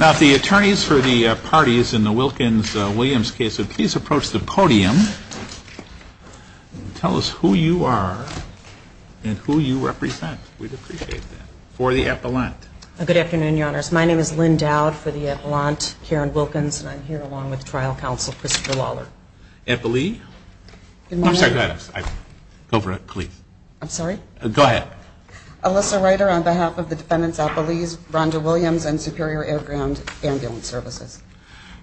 Now if the attorneys for the parties in the Wilkins-Williams case would please approach the podium and tell us who you are and who you represent. We'd appreciate that. For the Appellant. Good afternoon, Your Honors. My name is Lynn Dowd for the Appellant here in Wilkins and I'm here along with Trial Counsel Christopher Lawler. Appellee? I'm sorry, go ahead. Go for it, please. I'm sorry? Go ahead. Alyssa Ryder on behalf of the defendants Appellees, Rhonda Williams and Superior Air Ground Ambulance Services.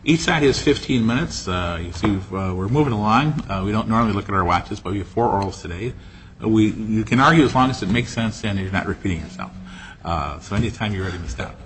Each side is 15 minutes. You see we're moving along. We don't normally look at our watches but we have four orals today. You can argue as long as it makes sense and you're not repeating yourself. So any time you're ready to step.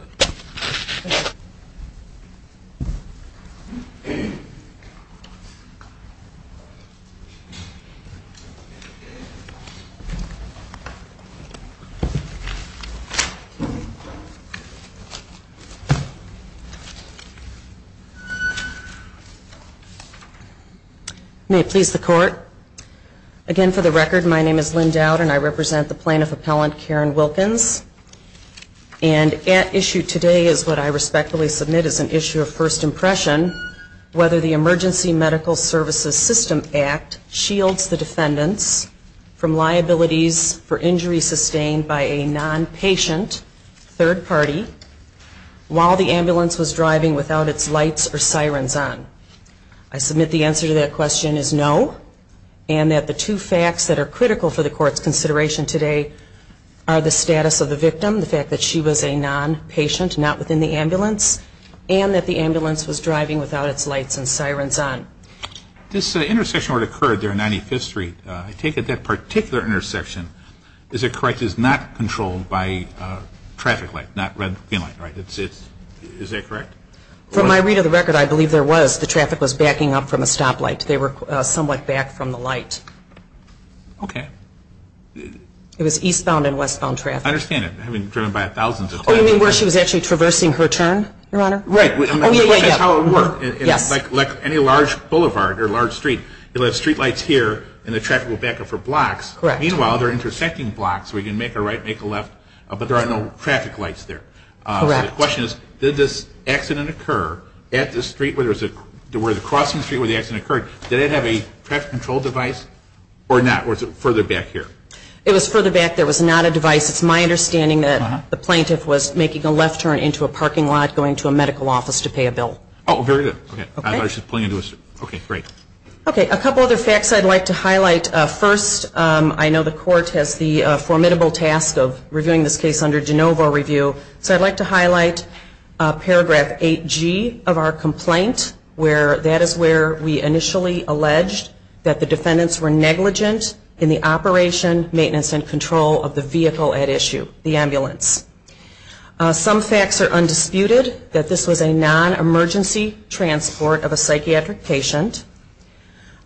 May it please the Court. Again, for the record, my name is Lynn Dowd and I represent the Plaintiff Appellant Karen Wilkins. And at issue today is what I respectfully submit as an issue of first impression, whether the Emergency Medical Services System Act shields the defendants from liabilities for injuries sustained by a nonpatient third party while the ambulance was driving without its lights or sirens on. I submit the answer to that question is no and that the two facts that are critical for the Court's consideration today are the status of the victim, the fact that she was a nonpatient, not within the ambulance, and that the ambulance was driving without its lights and sirens on. This intersection where it occurred there on 95th Street, I take it that particular intersection, is it correct, is not controlled by traffic light, not red green light, right? Is that correct? From my read of the record, I believe there was. The traffic was backing up from a stop light. They were somewhat back from the light. Okay. It was eastbound and westbound traffic. I understand it, having driven by thousands of times. Oh, you mean where she was actually traversing her turn, Your Honor? Right. Oh, yeah, yeah, yeah. That's how it worked. Yes. Like any large boulevard or large street, you'll have street lights here and the traffic will back up for blocks. Correct. Meanwhile, there are intersecting blocks where you can make a right, make a left, but there are no traffic lights there. Correct. So the question is, did this accident occur at the street where there was a, where the accident occurred, did it have a traffic control device or not? Was it further back here? It was further back. There was not a device. It's my understanding that the plaintiff was making a left turn into a parking lot, going to a medical office to pay a bill. Oh, very good. Okay. Okay, great. Okay, a couple other facts I'd like to highlight. First, I know the Court has the formidable task of reviewing this case under de novo review, so I'd like to highlight paragraph 8G of our complaint, where that is where we initially alleged that the defendants were negligent in the operation, maintenance, and control of the vehicle at issue, the ambulance. Some facts are undisputed, that this was a non-emergency transport of a psychiatric patient.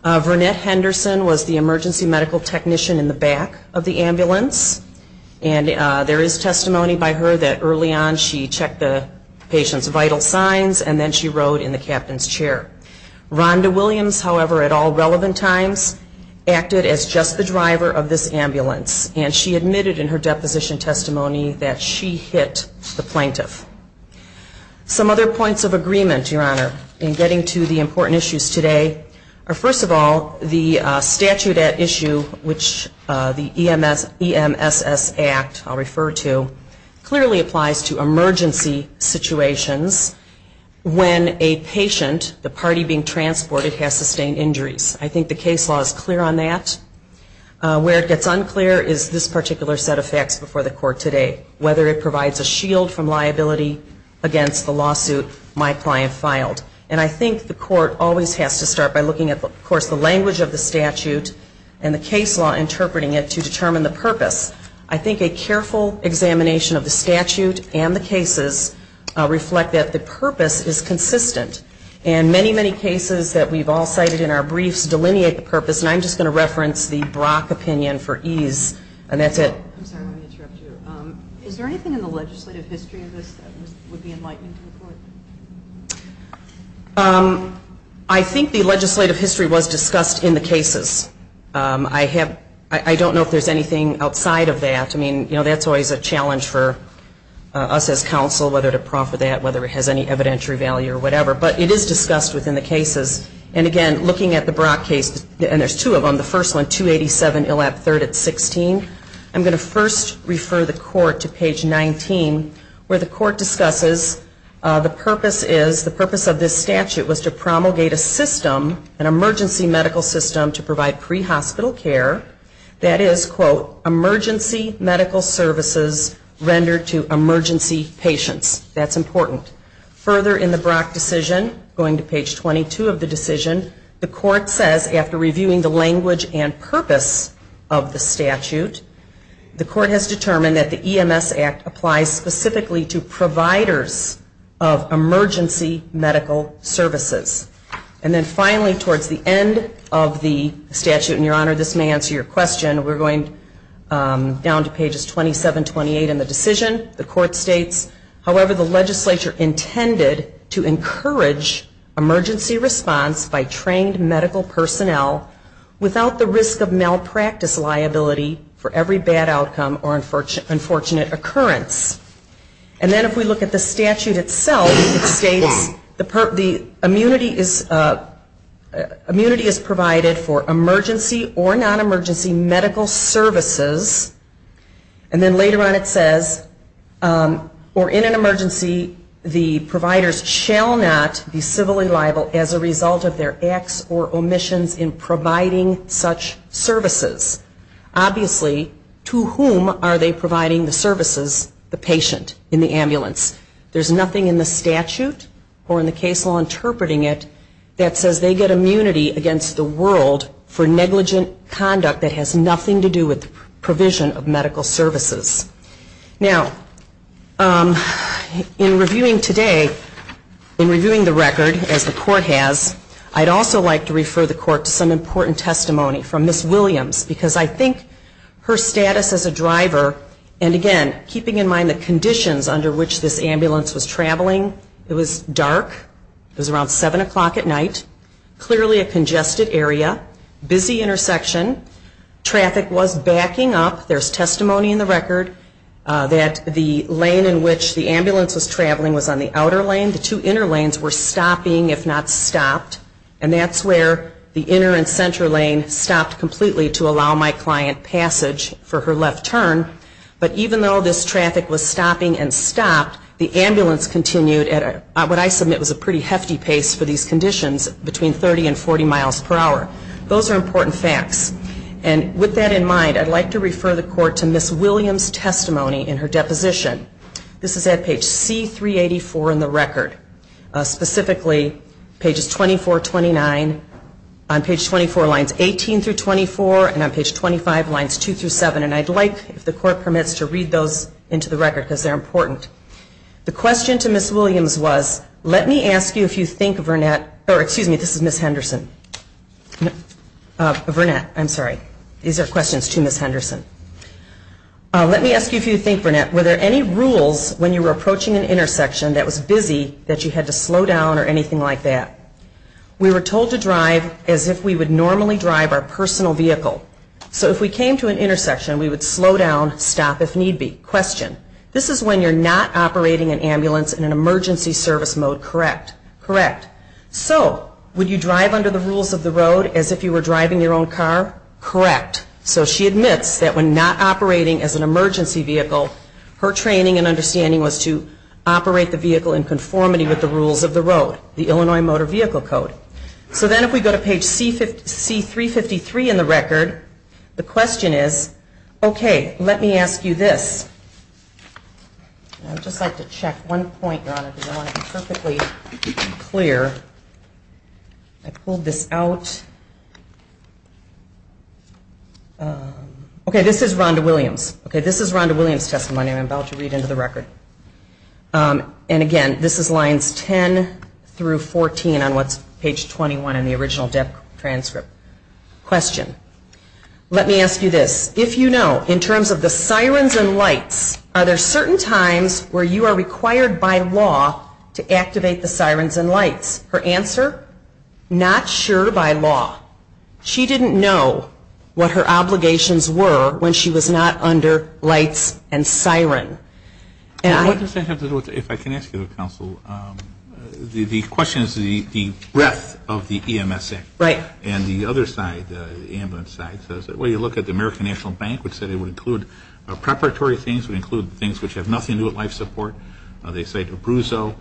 Vernette Henderson was the emergency medical technician in the back of the ambulance, and there is testimony by her that early on she checked the patient's vital signs, and then she rode in the captain's chair. Rhonda Williams, however, at all relevant times, acted as just the driver of this ambulance, and she admitted in her deposition testimony that she hit the plaintiff. Some other points of agreement, Your Honor, in getting to the important issues today are First of all, the statute at issue, which the EMSS Act, I'll refer to, clearly applies to emergency situations when a patient, the party being transported, has sustained injuries. I think the case law is clear on that. Where it gets unclear is this particular set of facts before the Court today, whether it provides a shield from liability against the lawsuit my client filed. And I think the Court always has to start by looking at, of course, the language of the statute and the case law interpreting it to determine the purpose. I think a careful examination of the statute and the cases reflect that the purpose is consistent. And many, many cases that we've all cited in our briefs delineate the purpose, and I'm just going to reference the Brock opinion for ease, and that's it. I'm sorry, let me interrupt you. Is there anything in the legislative history of this that would be enlightening to the Court? I think the legislative history was discussed in the cases. I have, I don't know if there's anything outside of that. I mean, you know, that's always a challenge for us as counsel, whether to proffer that, whether it has any evidentiary value or whatever. But it is discussed within the cases. And again, looking at the Brock case, and there's two of them, the first one, 287 Illab III at 16. I'm going to first refer the Court to page 19, where the Court discusses the purpose is, the purpose of this statute was to promulgate a system, an emergency medical system, to provide pre-hospital care. That is, quote, emergency medical services rendered to emergency patients. That's important. Further in the Brock decision, going to page 22 of the decision, the Court says, after reviewing the language and purpose of the statute, the Court has determined that the EMS Act applies specifically to providers of emergency medical services. And then finally, towards the end of the statute, and Your Honor, this may answer your question, we're going down to pages 27, 28 in the decision, the by trained medical personnel without the risk of malpractice liability for every bad outcome or unfortunate occurrence. And then if we look at the statute itself, it states, the immunity is provided for emergency or non-emergency medical services. And then later on it says, or in an emergency, the providers shall not be civilly liable as a result of their acts or omissions in providing such services. Obviously, to whom are they providing the services? The patient in the ambulance. There's nothing in the statute or in the case law interpreting it that says they get immunity against the world for negligent conduct that has nothing to do with the provision of medical services. Now, in reviewing today, in reviewing the record as the Court has, I'd also like to refer the Court to some important testimony from Ms. Williams, because I think her status as a driver, and again, keeping in mind the conditions under which this ambulance was traveling, it was dark, it was around 7 o'clock at night, clearly a congested area, busy intersection, traffic was backing up. There's testimony in the record that the lane in which the ambulance was traveling was on the outer lane. The two inner lanes were stopping, if not stopped, and that's where the inner and center lane stopped completely to allow my client passage for her left turn. But even though this traffic was stopping and stopped, the ambulance continued at what I submit was a pretty hefty pace for these conditions, between 30 and 40 miles per hour. Those are important facts. And with that in mind, I'd like to refer the Court to Ms. Williams' testimony in her deposition. This is at page C384 in the record. Specifically, pages 24, 29, on page 24, lines 18 through 24, and on page 25, lines 2 through 7. And I'd like, if the Court permits, to read those into the record, because they're important. The question to Ms. Williams was, let me ask you if you think Vernette, or excuse me, this is Ms. Henderson. Vernette, I'm sorry. These are questions to Ms. Henderson. Let me ask you if you think, Vernette, were there any rules when you were approaching an intersection that was busy that you had to slow down or anything like that? We were told to drive as if we would normally drive our personal vehicle. So if we came to an intersection, we would slow down, stop if need be. Question. This is when you're not operating an ambulance in an emergency service mode, correct? Correct. So would you drive under the rules of the road as if you were driving your own car? Correct. So she admits that when not operating as an emergency vehicle, her training and understanding was to operate the vehicle in conformity with the rules of the road, the Illinois Motor Vehicle Code. So then if we go to page C353 in the record, the question is, okay, let me ask you this. I'd just like to check one point, Your Honor, because I want it to be perfectly clear. I pulled this out. Okay, this is Rhonda Williams. This is Rhonda Williams' testimony I'm about to read into the record. And again, this is lines 10 through 14 on what's page 21 in the original transcript. Question. Let me ask you this. If you know, in terms of the sirens and lights, are there certain times where you are required by law to activate the sirens and lights? Her answer, not sure by law. She didn't know what her obligations were when she was not under lights and siren. What does that have to do with, if I can ask you, counsel, the question is the breadth of the EMS Act. Right. And the other side, the ambulance side, says that when you look at the American National Bank, which said it would include preparatory things, would include things which have nothing to do with life support. They say DeBruzzo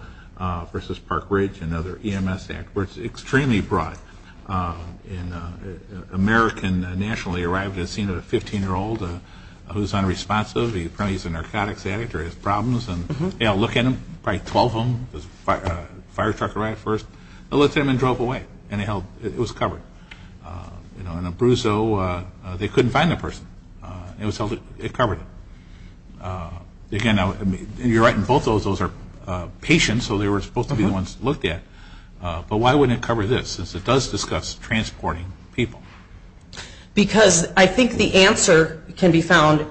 versus Park Ridge, another EMS Act, where it's extremely broad. An American nationally arrived at the scene of a 15-year-old who's unresponsive. He's a narcotics addict or has a substance use disorder at first. They looked at him and he drove away. And it was covered. DeBruzzo, they couldn't find the person. It was covered. Again, you're right in both those. Those are patients, so they were supposed to be the ones looked at. But why wouldn't it cover this, since it does discuss transporting people? Because I think the answer can be found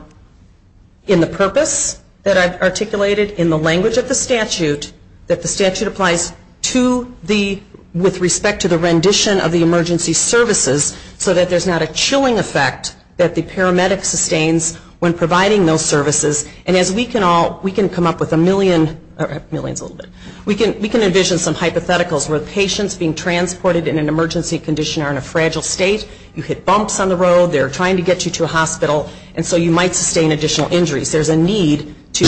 in the purpose that I've articulated in the language of the statute, that the statute applies to the, with respect to the rendition of the emergency services, so that there's not a chilling effect that the paramedic sustains when providing those services. And as we can all, we can come up with a million, or millions a little bit, we can envision some hypotheticals where patients being transported in an emergency condition are in a fragile state, you hit bumps on the road, they're trying to get you to a hospital, and so you might sustain additional injuries. There's a need to,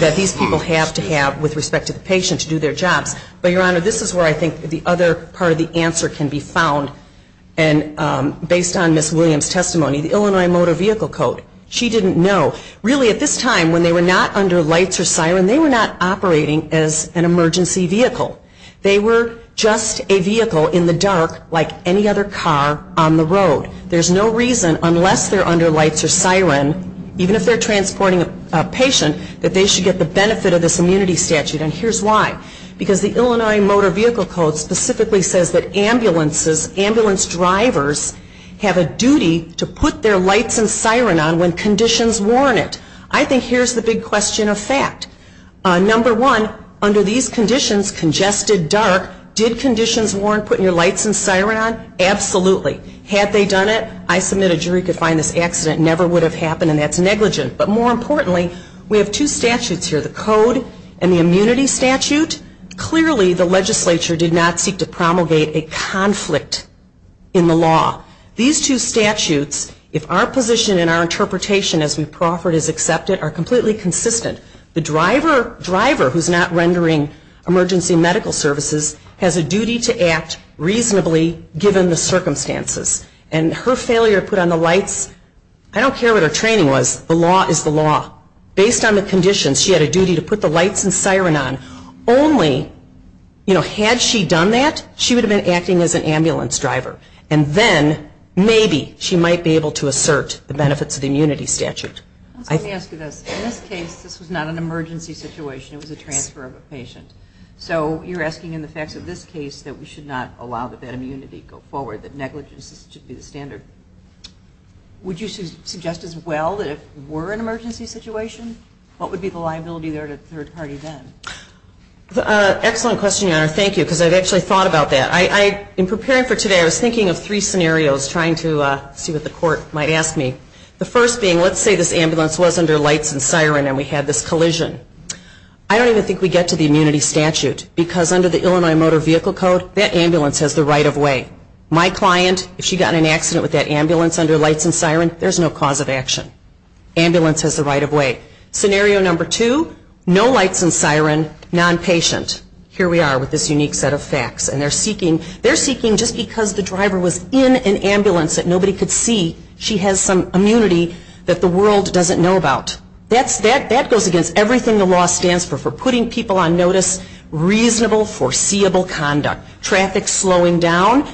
that these people have to have with respect to the patient to do their jobs. But, Your Honor, this is where I think the other part of the answer can be found. And based on Ms. Williams' testimony, the Illinois Motor Vehicle Code, she didn't know. Really, at this time, when they were not under lights or siren, they were not operating as an emergency vehicle. They were just a vehicle in the dark, like any other car on the road. There's no reason, unless they're under lights or siren, even if they're transporting a patient, that they should get the benefit of this immunity statute. And here's why. Because the Illinois Motor Vehicle Code specifically says that ambulances, ambulance drivers, have a duty to put their lights and siren on when conditions warn it. I think here's the big question of fact. Number one, under these conditions, congested, dark, did conditions warn putting your lights and siren on? Absolutely. Had they done it, I submit a jury could find this accident never would have happened and that's negligent. But more importantly, we have two statutes here, the Code and the Immunity Statute. Clearly the legislature did not seek to promulgate a conflict in the law. These two statutes, if our position and our interpretation as we proffered is accepted, are completely consistent. The driver who's not rendering emergency medical services has a duty to act reasonably given the circumstances. And her failure to put on the lights, I don't care what her training was, the law is the law. Based on the conditions, she had a duty to put the lights and siren on. Only, you know, had she done that, she would have been acting as an ambulance driver. And then maybe she might be able to assert the benefits of the immunity statute. Let me ask you this. In this case, this was not an emergency situation. It was a transfer of a patient. So you're asking in the facts of this case that we should not allow that immunity to go forward, that negligence should be the standard. Would you suggest as well that if it were an emergency situation, what would be the liability there to third party Excellent question, Your Honor. Thank you. Because I've actually thought about that. I, in preparing for today, I was thinking of three scenarios, trying to see what the court might ask me. The first being, let's say this ambulance was under lights and siren and we had this collision. I don't even think we get to the immunity statute. Because under the Illinois Motor Vehicle Code, that ambulance has the right of way. My client, if she got in an accident with that ambulance under lights and siren, there's no cause of action. Ambulance has the right of way. Scenario number two, no lights and siren, nonpatient. Here we are with this unique set of facts. And they're seeking, they're seeking just because the driver was in an ambulance that nobody could see, she has some immunity that the world doesn't know about. That's, that goes against everything the law stands for, for putting people on notice, reasonable, foreseeable conduct. Traffic slowing down,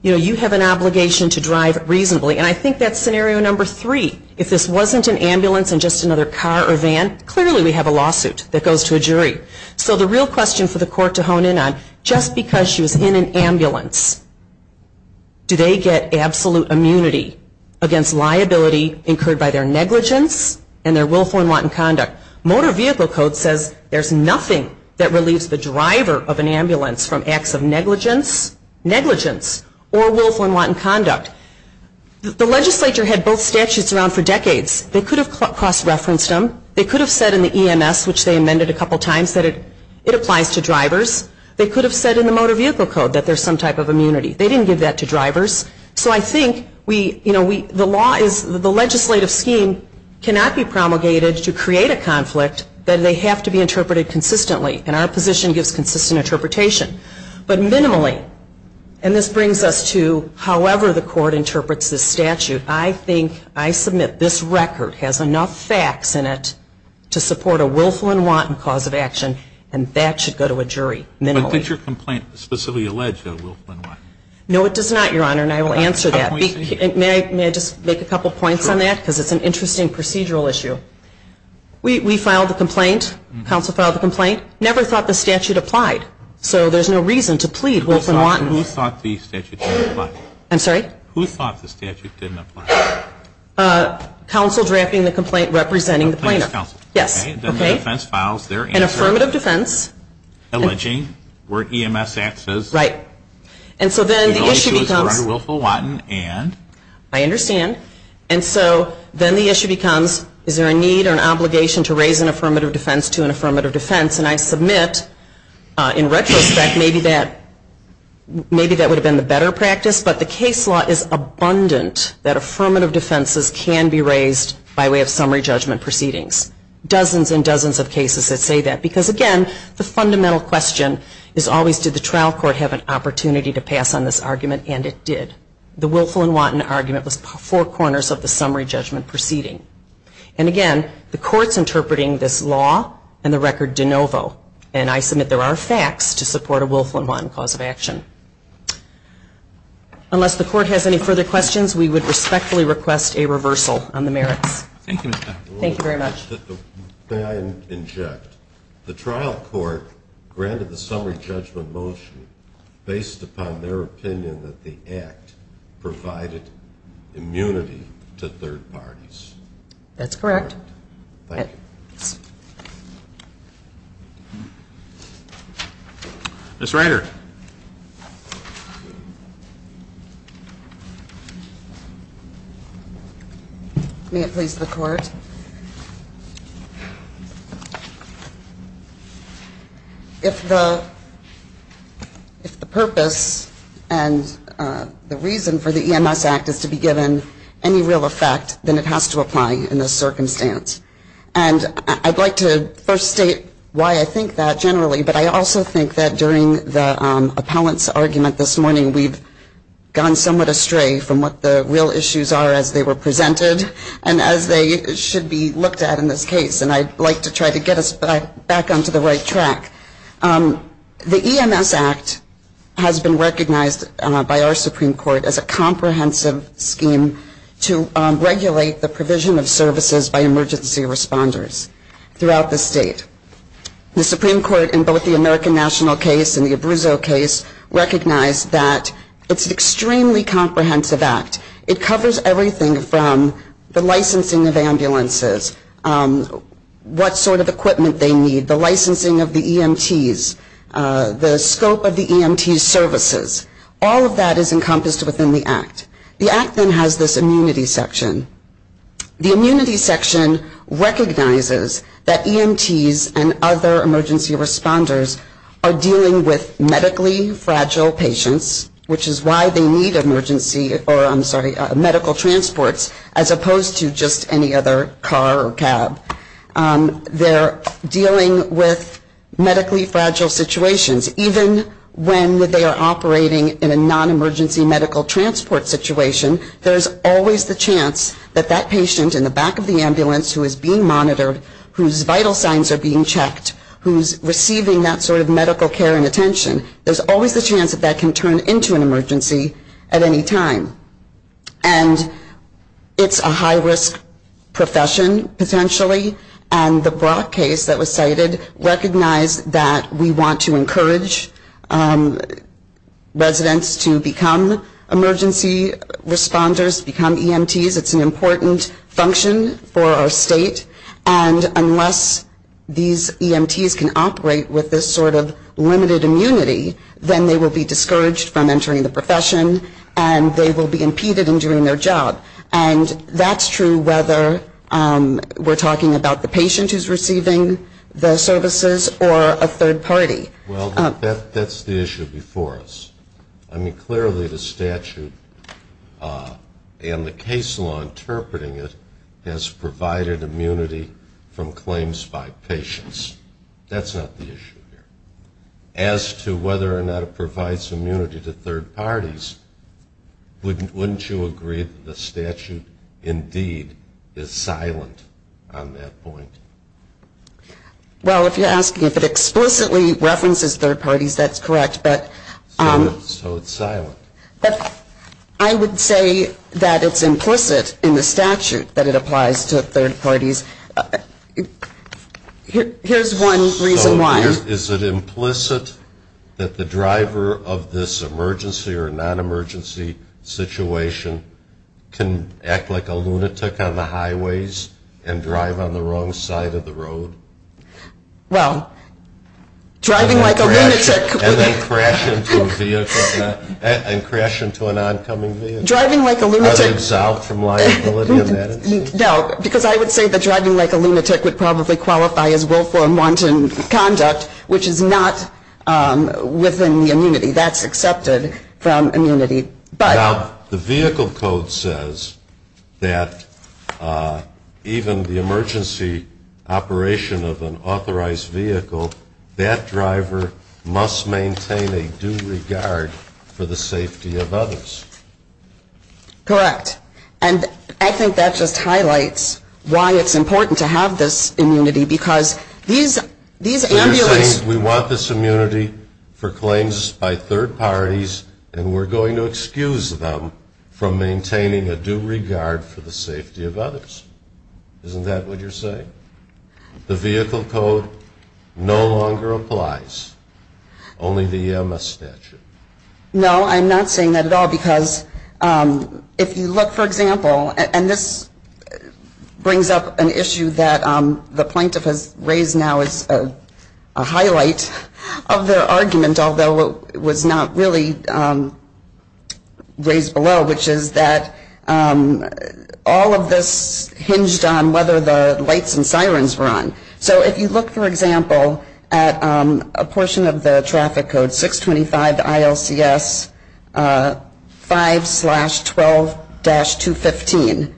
you know, you have an obligation to drive reasonably. And I think that's scenario number three. If this wasn't an ambulance and just another car or van, clearly we have a lawsuit that goes to a jury. So the real question for the court to hone in on, just because she was in an ambulance, do they get absolute immunity against liability incurred by their negligence and their willful and wanton conduct? Motor Vehicle Code says there's nothing that relieves the driver of an ambulance from acts of negligence, negligence or willful and wanton conduct. The legislature had both statutes around for decades. They could have cross-referenced them. They could have said in the EMS, which they amended a couple times, that it applies to drivers. They could have said in the Motor Vehicle Code that there's some type of immunity. They didn't give that to drivers. So I think we, you know, we, the law is, the legislative scheme cannot be promulgated to create a conflict that they have to be interpreted consistently. And our position gives consistent interpretation. But minimally, and this brings us to however the court interprets this statute, I think, I submit this record has enough facts in it to support a willful and wanton cause of action, and that should go to a jury, minimally. But I think your complaint specifically alleged a willful and wanton. No, it does not, Your Honor, and I will answer that. May I just make a couple points on that? Because it's an interesting procedural issue. We filed the complaint, counsel filed the complaint, never thought the statute applied. So there's no reason to plead willful and wanton. Who thought the statute didn't apply? I'm sorry? Who thought the statute didn't apply? Counsel drafting the complaint representing the plaintiff. The plaintiff's counsel. Yes. Okay. Then the defense files their answer. An affirmative defense. Alleging where EMS acts as. Right. And so then the issue becomes. Or under willful, wanton, and. I understand. And so then the issue becomes, is there a need or an obligation to raise an affirmative defense to an affirmative defense? And I submit, in retrospect, maybe that would have been the better practice, but the case law is abundant that affirmative defenses can be raised by way of summary judgment proceedings. Dozens and dozens of cases that say that. Because again, the fundamental question is always, did the trial court have an opportunity to pass on this argument? And it did. The willful and wanton argument was four corners of the summary judgment proceeding. And again, the court's interpreting this law and the record de novo. And I submit there are facts to support a willful and wanton cause of action. Unless the court has any further questions, we would respectfully request a reversal on the merits. Thank you, Ms. Backer. Thank you very much. May I inject? The trial court granted the summary judgment motion based upon their opinion that the act provided immunity to third parties. That's correct. Thank you. Yes. Ms. Reiter. May it please the court. If the purpose and the reason for the EMS Act is to be given any real effect, then it has to apply in this circumstance. And I'd like to first state why I think that generally. But I also think that during the appellant's argument this morning, we've gone somewhat astray from what the real issues are as they were presented and as they should be looked at in this case. And I'd like to try to get us back onto the right track. The EMS Act has been recognized by our Supreme Court as a comprehensive scheme to regulate the provision of services by emergency responders throughout the state. The Supreme Court in both the American National case and the Abruzzo case recognized that it's an extremely comprehensive act. It covers everything from the licensing of ambulances, what sort of equipment they need, the licensing of the EMTs, the scope of the EMT services. All of that is encompassed in the Act. The Act then has this immunity section. The immunity section recognizes that EMTs and other emergency responders are dealing with medically fragile patients, which is why they need medical transports as opposed to just any other car or cab. They're dealing with medically fragile situations, even when they are operating in a nonemergency medical transport situation, there's always the chance that that patient in the back of the ambulance who is being monitored, whose vital signs are being checked, who's receiving that sort of medical care and attention, there's always the chance that that can turn into an emergency at any time. And it's a high-risk profession, potentially, and the Brock case that was cited recognized that we want to encourage residents to become emergency responders, become EMTs. It's an important function for our state. And unless these EMTs can operate with this sort of limited immunity, then they will be discouraged from entering the profession and they will be impeded in doing their job. And that's true whether we're talking about the patient who's receiving the services or a third party. Well, that's the issue before us. I mean, clearly the statute and the case law interpreting it has provided immunity from claims by patients. That's not the issue here. As to whether or not the statute, indeed, is silent on that point. Well, if you're asking if it explicitly references third parties, that's correct. So it's silent. I would say that it's implicit in the statute that it applies to third parties. Here's one reason why. Is it implicit that the driver of this emergency or non-emergency situation can act like a lunatic on the highways and drive on the wrong side of the road? Well, driving like a lunatic would... And then crash into a vehicle, and crash into an oncoming vehicle? Driving like a lunatic... Are they absolved from liability in that instance? No, because I would say that driving like a lunatic would probably qualify as willful and wanton conduct, which is not within the immunity. That's accepted from immunity. Now, the vehicle code says that even the emergency operation of an authorized vehicle, that driver must maintain a due regard for the safety of others. Correct. And I think that just highlights why it's important to have this immunity, because these ambulances... So you're saying we want this immunity for claims by third parties, and we're going to excuse them from maintaining a due regard for the safety of others. Isn't that what you're saying? The vehicle code no longer applies. Only the EMS statute. No, I'm not saying that at all, because if you look, for example, and this brings up an issue that the plaintiff has raised now as a highlight of their argument, although it was not really raised below, which is that all of this hinged on whether the lights and sirens were on. So if you look, for example, at a portion of the traffic code, 625 ILCS 5-12-215,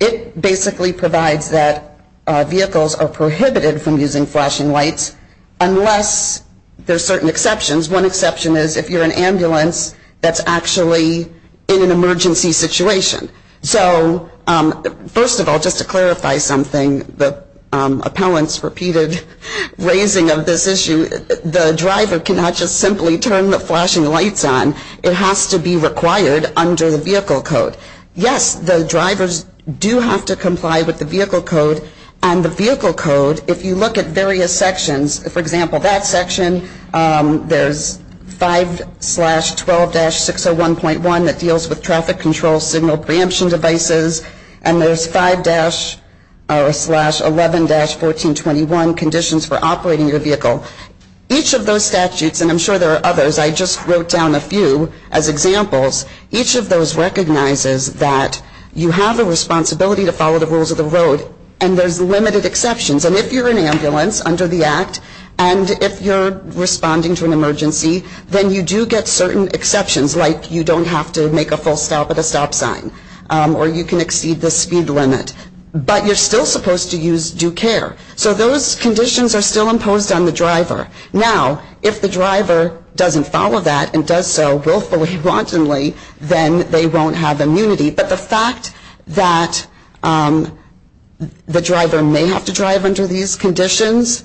it basically provides that vehicles are prohibited from using flashing lights unless there's certain exceptions. One exception is if you're an ambulance that's actually in an emergency situation. So first of all, just to clarify something the appellant's repeated raising of this issue, the driver cannot just simply turn the flashing lights on. It has to be required under the vehicle code. Yes, the drivers do have to comply with the vehicle code, and the vehicle code, if you look at various sections, for example, that section, there's 5-12-601.1 that deals with traffic control signal preemption devices, and there's 5-11-1421 conditions for operating your vehicle. Each of those statutes, and I'm sure there are others, I just wrote down a few as examples, each of those recognizes that you have a responsibility to follow the rules of the road, and there's limited exceptions. And if you're an ambulance under the Act, and if you're responding to an emergency, then you do get certain exceptions, like you don't have to make a full stop at a stop sign, or you can exceed the speed limit. But you're still supposed to use due care. So those conditions are still imposed on the driver. Now, if the driver doesn't follow that and does so willfully, wantonly, then they won't have immunity. But the fact that the driver may have to drive under these conditions,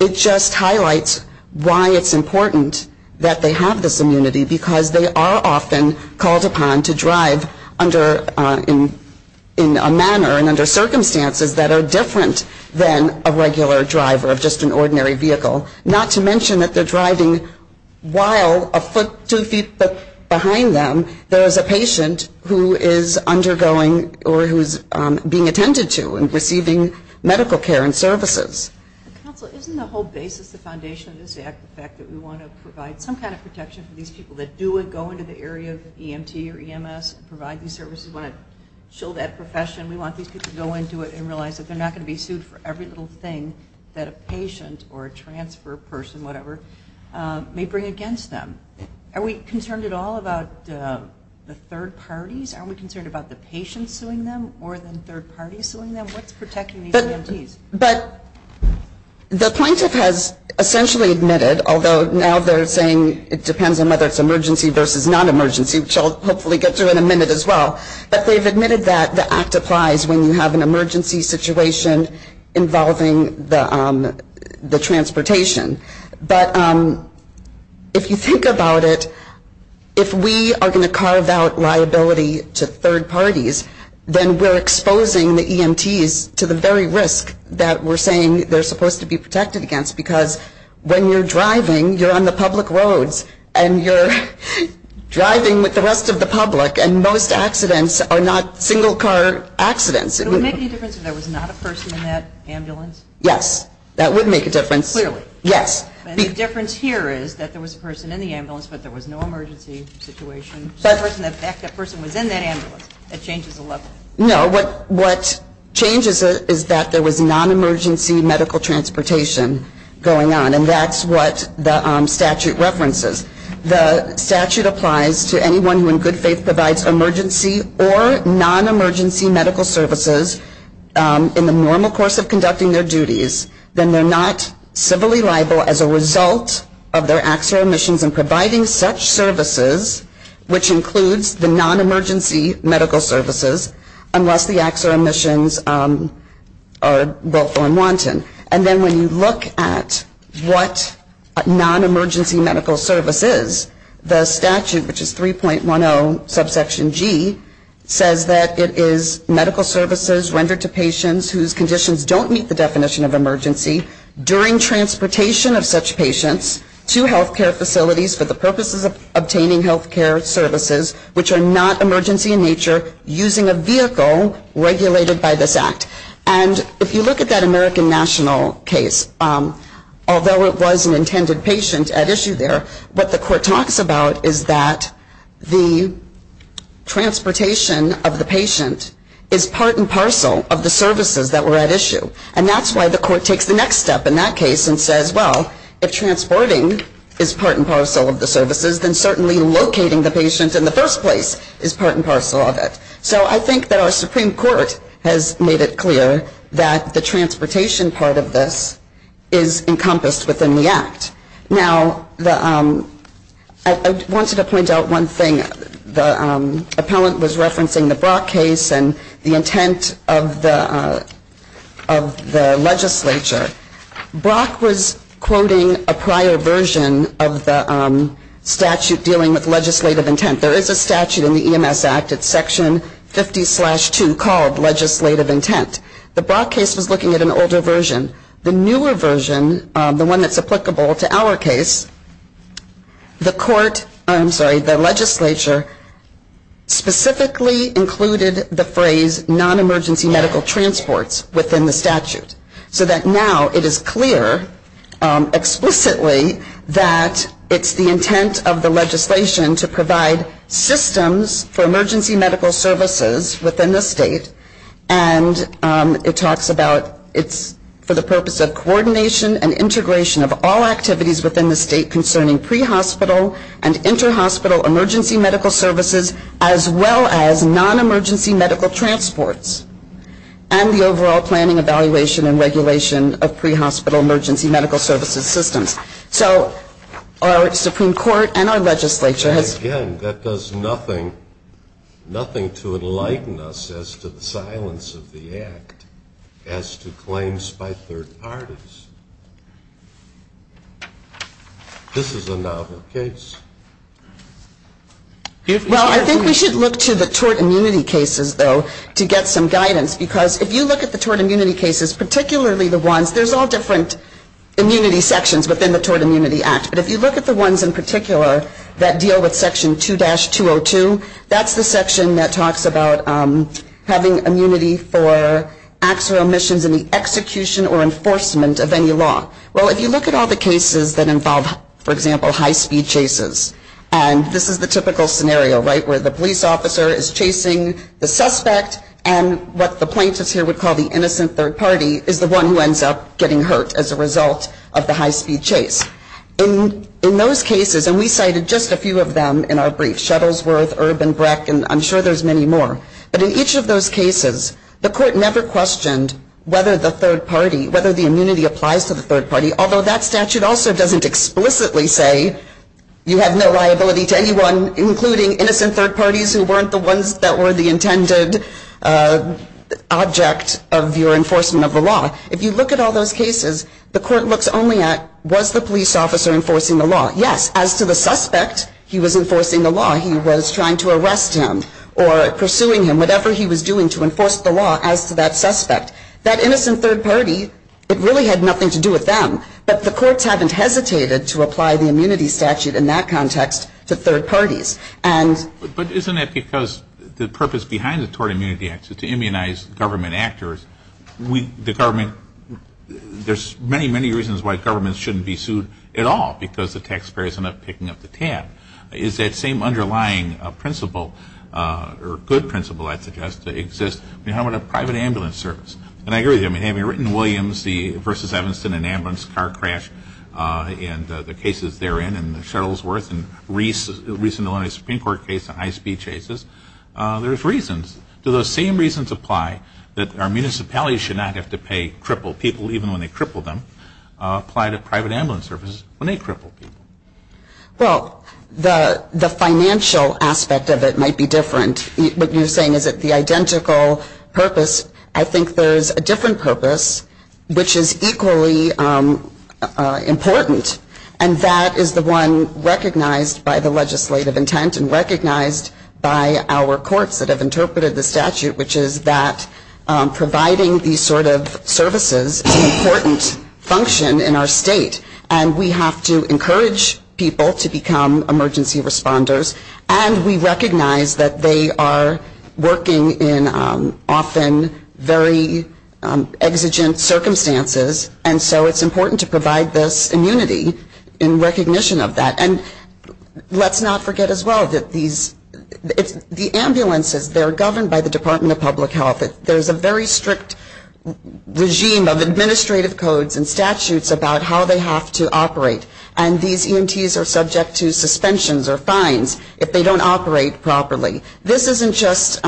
it just highlights why it's important that they have this immunity, because they are often called upon to drive under, in a manner and under circumstances that are different than a regular driver of just an ordinary vehicle. Not to mention that they're driving while a foot, two feet behind them, there is a patient who is undergoing or who's being attended to and receiving medical care and services. Counsel, isn't the whole basis, the foundation of this Act, the fact that we want to provide some kind of protection for these people that do go into the area of EMT or EMS and provide these services? We want to chill that profession. We want these people to go into it and realize that they're not going to be sued for every little thing that a patient or a transfer person, whatever, may bring against them. Are we concerned at all about the third parties? Are we concerned about the patients suing them more than third parties suing them? What's The plaintiff has essentially admitted, although now they're saying it depends on whether it's emergency versus non-emergency, which I'll hopefully get to in a minute as well, but they've admitted that the Act applies when you have an emergency situation involving the transportation. But if you think about it, if we are going to carve out liability to third parties, then we're exposing the EMTs to the very risk that we're saying they're supposed to be protected against because when you're driving, you're on the public roads and you're driving with the rest of the public and most accidents are not single-car accidents. Would it make any difference if there was not a person in that ambulance? Yes. That would make a difference. Clearly. Yes. And the difference here is that there was a person in the ambulance, but there was no emergency situation. So if that person was in that ambulance, that changes the level. No. What changes it is that there was non-emergency medical transportation going on, and that's what the statute references. The statute applies to anyone who in good faith provides emergency or non-emergency medical services in the normal course of conducting their duties, then they're not civilly liable as a result of their acts or omissions in providing such services, which includes the non-emergency medical services, unless the acts or omissions are willful and wanton. And then when you look at what non-emergency medical service is, the statute, which is 3.10 subsection G, says that it is medical services rendered to patients whose conditions don't meet the definition of emergency during transportation of such patients to health care facilities for the purposes of obtaining health care services which are not emergency in nature using a vehicle regulated by this act. And if you look at that American National case, although it was an intended patient at issue there, what the court talks about is that the transportation of the patient is part and parcel of the services that were rendered to the patient at issue. And that's why the court takes the next step in that case and says, well, if transporting is part and parcel of the services, then certainly locating the patient in the first place is part and parcel of it. So I think that our Supreme Court has made it clear that the transportation part of this is encompassed within the act. Now, I wanted to point out one thing. The appellant was referencing the Brock case and the intent of the legislature. Brock was quoting a prior version of the statute dealing with legislative intent. There is a statute in the EMS Act, it's section 50-2, called legislative intent. The Brock case was looking at an older version. The newer version, the one that's applicable to our case, the court, I'm sorry, the legislature specifically included the phrase non-emergency medical transports within the statute. So that now it is clear explicitly that it's the intent of the legislation to provide systems for emergency medical services within the state. And it talks about it's for the purpose of coordination and integration of all activities within the state concerning pre-hospital and inter-hospital emergency medical services, as well as non-emergency medical transports, and the overall planning, evaluation, and regulation of pre-hospital emergency medical services systems. So our Supreme Court and our legislature has... And again, that does nothing, nothing to enlighten us as to the silence of the act as to claims by third parties. This is a novel case. Well, I think we should look to the tort immunity cases, though, to get some guidance. Because if you look at the tort immunity cases, particularly the ones, there's all different immunity sections within the Tort Immunity Act. But if you look at the ones in particular that deal with section 2-202, that's the section that talks about having immunity for acts or omissions in the execution or enforcement of any law. Well, if you look at all the cases that involve, for example, high-speed chases, and this is the typical scenario, right, where the police officer is chasing the suspect, and what the plaintiffs here would call the innocent third party is the one who ends up getting hurt as a result of the high-speed chase. In those cases, and we cited just a few of them in our brief, Shuttlesworth, Erb and Breck, and I'm sure there's many more. But in each of those cases, the court never questioned whether the third party, whether the immunity applies to the third party, although that statute also doesn't explicitly say you have no liability to anyone, including innocent third parties who weren't the ones that were the intended object of your enforcement of the law. If you look at all those cases, the court looks only at, was the police officer enforcing the law? Yes. As to the suspect, he was enforcing the law. He was trying to arrest him or pursuing him, whatever he was doing to enforce the law as to that suspect. That innocent third party, it really had nothing to do with them. But the courts haven't hesitated to apply the immunity statute in that context to third parties. And But isn't that because the purpose behind the Tort Immunity Act is to immunize government actors. We, the government, there's many, many reasons why governments shouldn't be sued at all because the taxpayer is not picking up the tab. Is that same underlying principle or good principle, I'd suggest, that exists when you're having a private ambulance service? And I agree with you. I mean, having written Williams v. Evanston, an ambulance car crash, and the cases therein, and the Shuttlesworth and recent Illinois Supreme Court case, the high-speed chases, there's reasons. Do those same reasons apply that our municipalities should not have to pay crippled people, even when they cripple them, apply to private ambulance services when they cripple people? Well, the financial aspect of it might be different. What you're saying is that the statute is a different purpose, which is equally important. And that is the one recognized by the legislative intent and recognized by our courts that have interpreted the statute, which is that providing these sort of services is an important function in our state. And we have to encourage people to become emergency responders. And we recognize that they are working in often very exigent circumstances, and so it's important to provide this immunity in recognition of that. And let's not forget as well that these, the ambulances, they're governed by the Department of Public Health. There's a very strict regime of administrative codes and statutes about how they have to operate. And these EMTs are subject to suspensions or fines if they don't operate properly. This isn't just,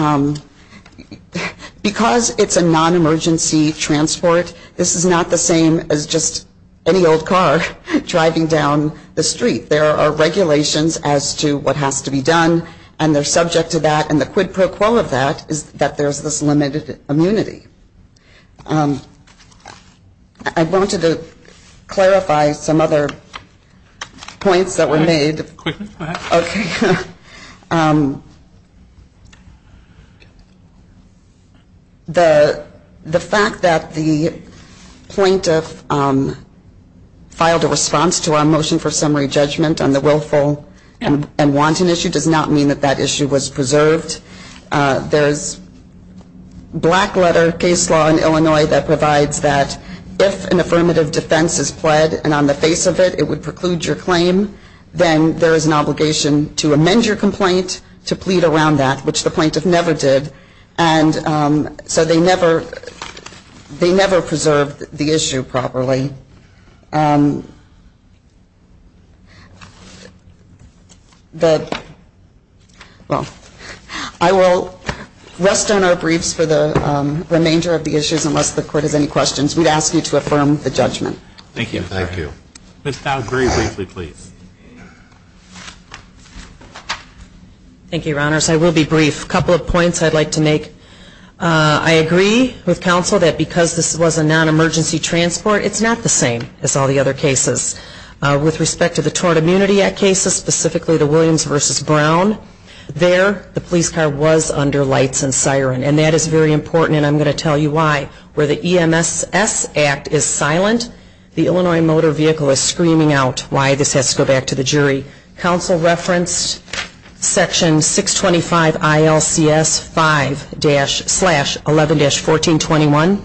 because it's a non-emergency transport, this is not the same as just any old car driving down the street. There are regulations as to what has to be done, and they're subject to that. And the quid pro quo of that is that there's this limited immunity. I wanted to clarify some other points that were made. The fact that the plaintiff filed a response to our motion for summary judgment on the willful and wanton issue does not mean that that issue was preserved. There's black letter case law in Illinois that provides that if an affirmative defense is pled and on the right to plead around that, which the plaintiff never did, and so they never, they never preserved the issue properly. The, well, I will rest on our briefs for the remainder of the issues unless the Court has any questions. We'd ask you to affirm the judgment. Thank you. Ms. Dowd, very briefly, please. Thank you, Your Honors. I will be brief. Couple of points I'd like to make. I agree with counsel that because this was a non-emergency transport, it's not the same as all the other cases. With respect to the Tort Immunity Act cases, specifically the Williams v. Brown, there the police car was under lights and siren. And that is very important, and I'm going to tell you why. Where the EMSS Act is silent, the Illinois Motor Vehicle is screaming out why this has to go back to the jury. Counsel referenced section 625 ILCS 5-11-1421.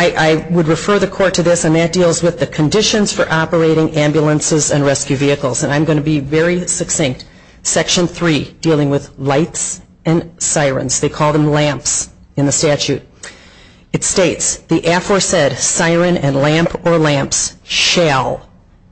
I would refer the Court to this, and that deals with the conditions for operating ambulances and rescue vehicles. And I'm going to be very brief. I'm going to read the statute. It states, the aforesaid siren and lamp or lamps shall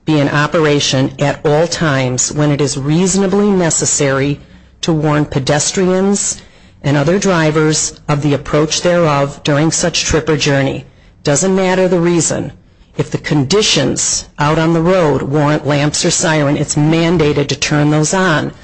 be in operation at all times when it is reasonably necessary to warn pedestrians and other drivers of the approach thereof during such trip or journey. Doesn't matter the reason. If the conditions out on the road warrant lamps or siren, it's mandated to turn those on.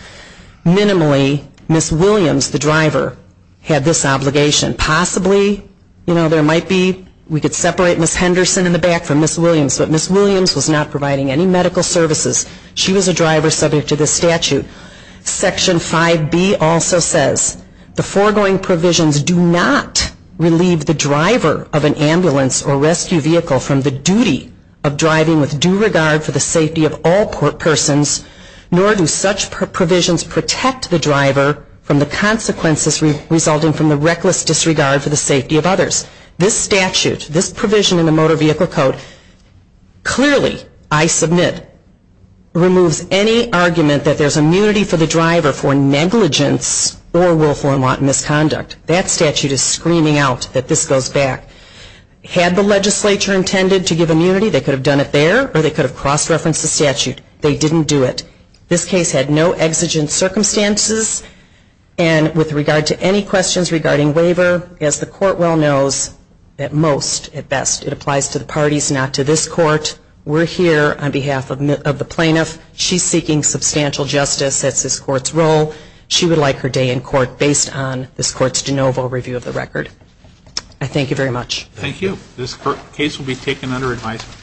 Minimally, Ms. Williams, the driver, had this obligation. Possibly, you know, there might be, we could separate Ms. Henderson in the back from Ms. Williams, but Ms. Williams was not providing any medical services. She was a driver subject to this statute. Section 5B also says, the foregoing provisions do not relieve the driver of an ambulance or rescue vehicle from the duty of driving with due regard for the safety of all persons nor do such provisions protect the driver from the consequences resulting from the reckless disregard for the safety of others. This statute, this provision in the Motor Vehicle Code clearly, I submit, removes any argument that there's immunity for the driver for negligence or willful and wanton misconduct. That statute is screaming out that this goes back. Had the legislature intended to give immunity, they could have done it there or they could have cross-referenced the statute. They didn't do it. This case had no exigent circumstances and with regard to any questions regarding waiver, as the court well knows, at most, at best, it applies to the parties, not to this court. We're here on behalf of the plaintiff. She's seeking substantial justice. That's this court's role. She would like her day in court based on this court's de novo review of the record. I thank you very much. Thank you. This case will be taken under advisement.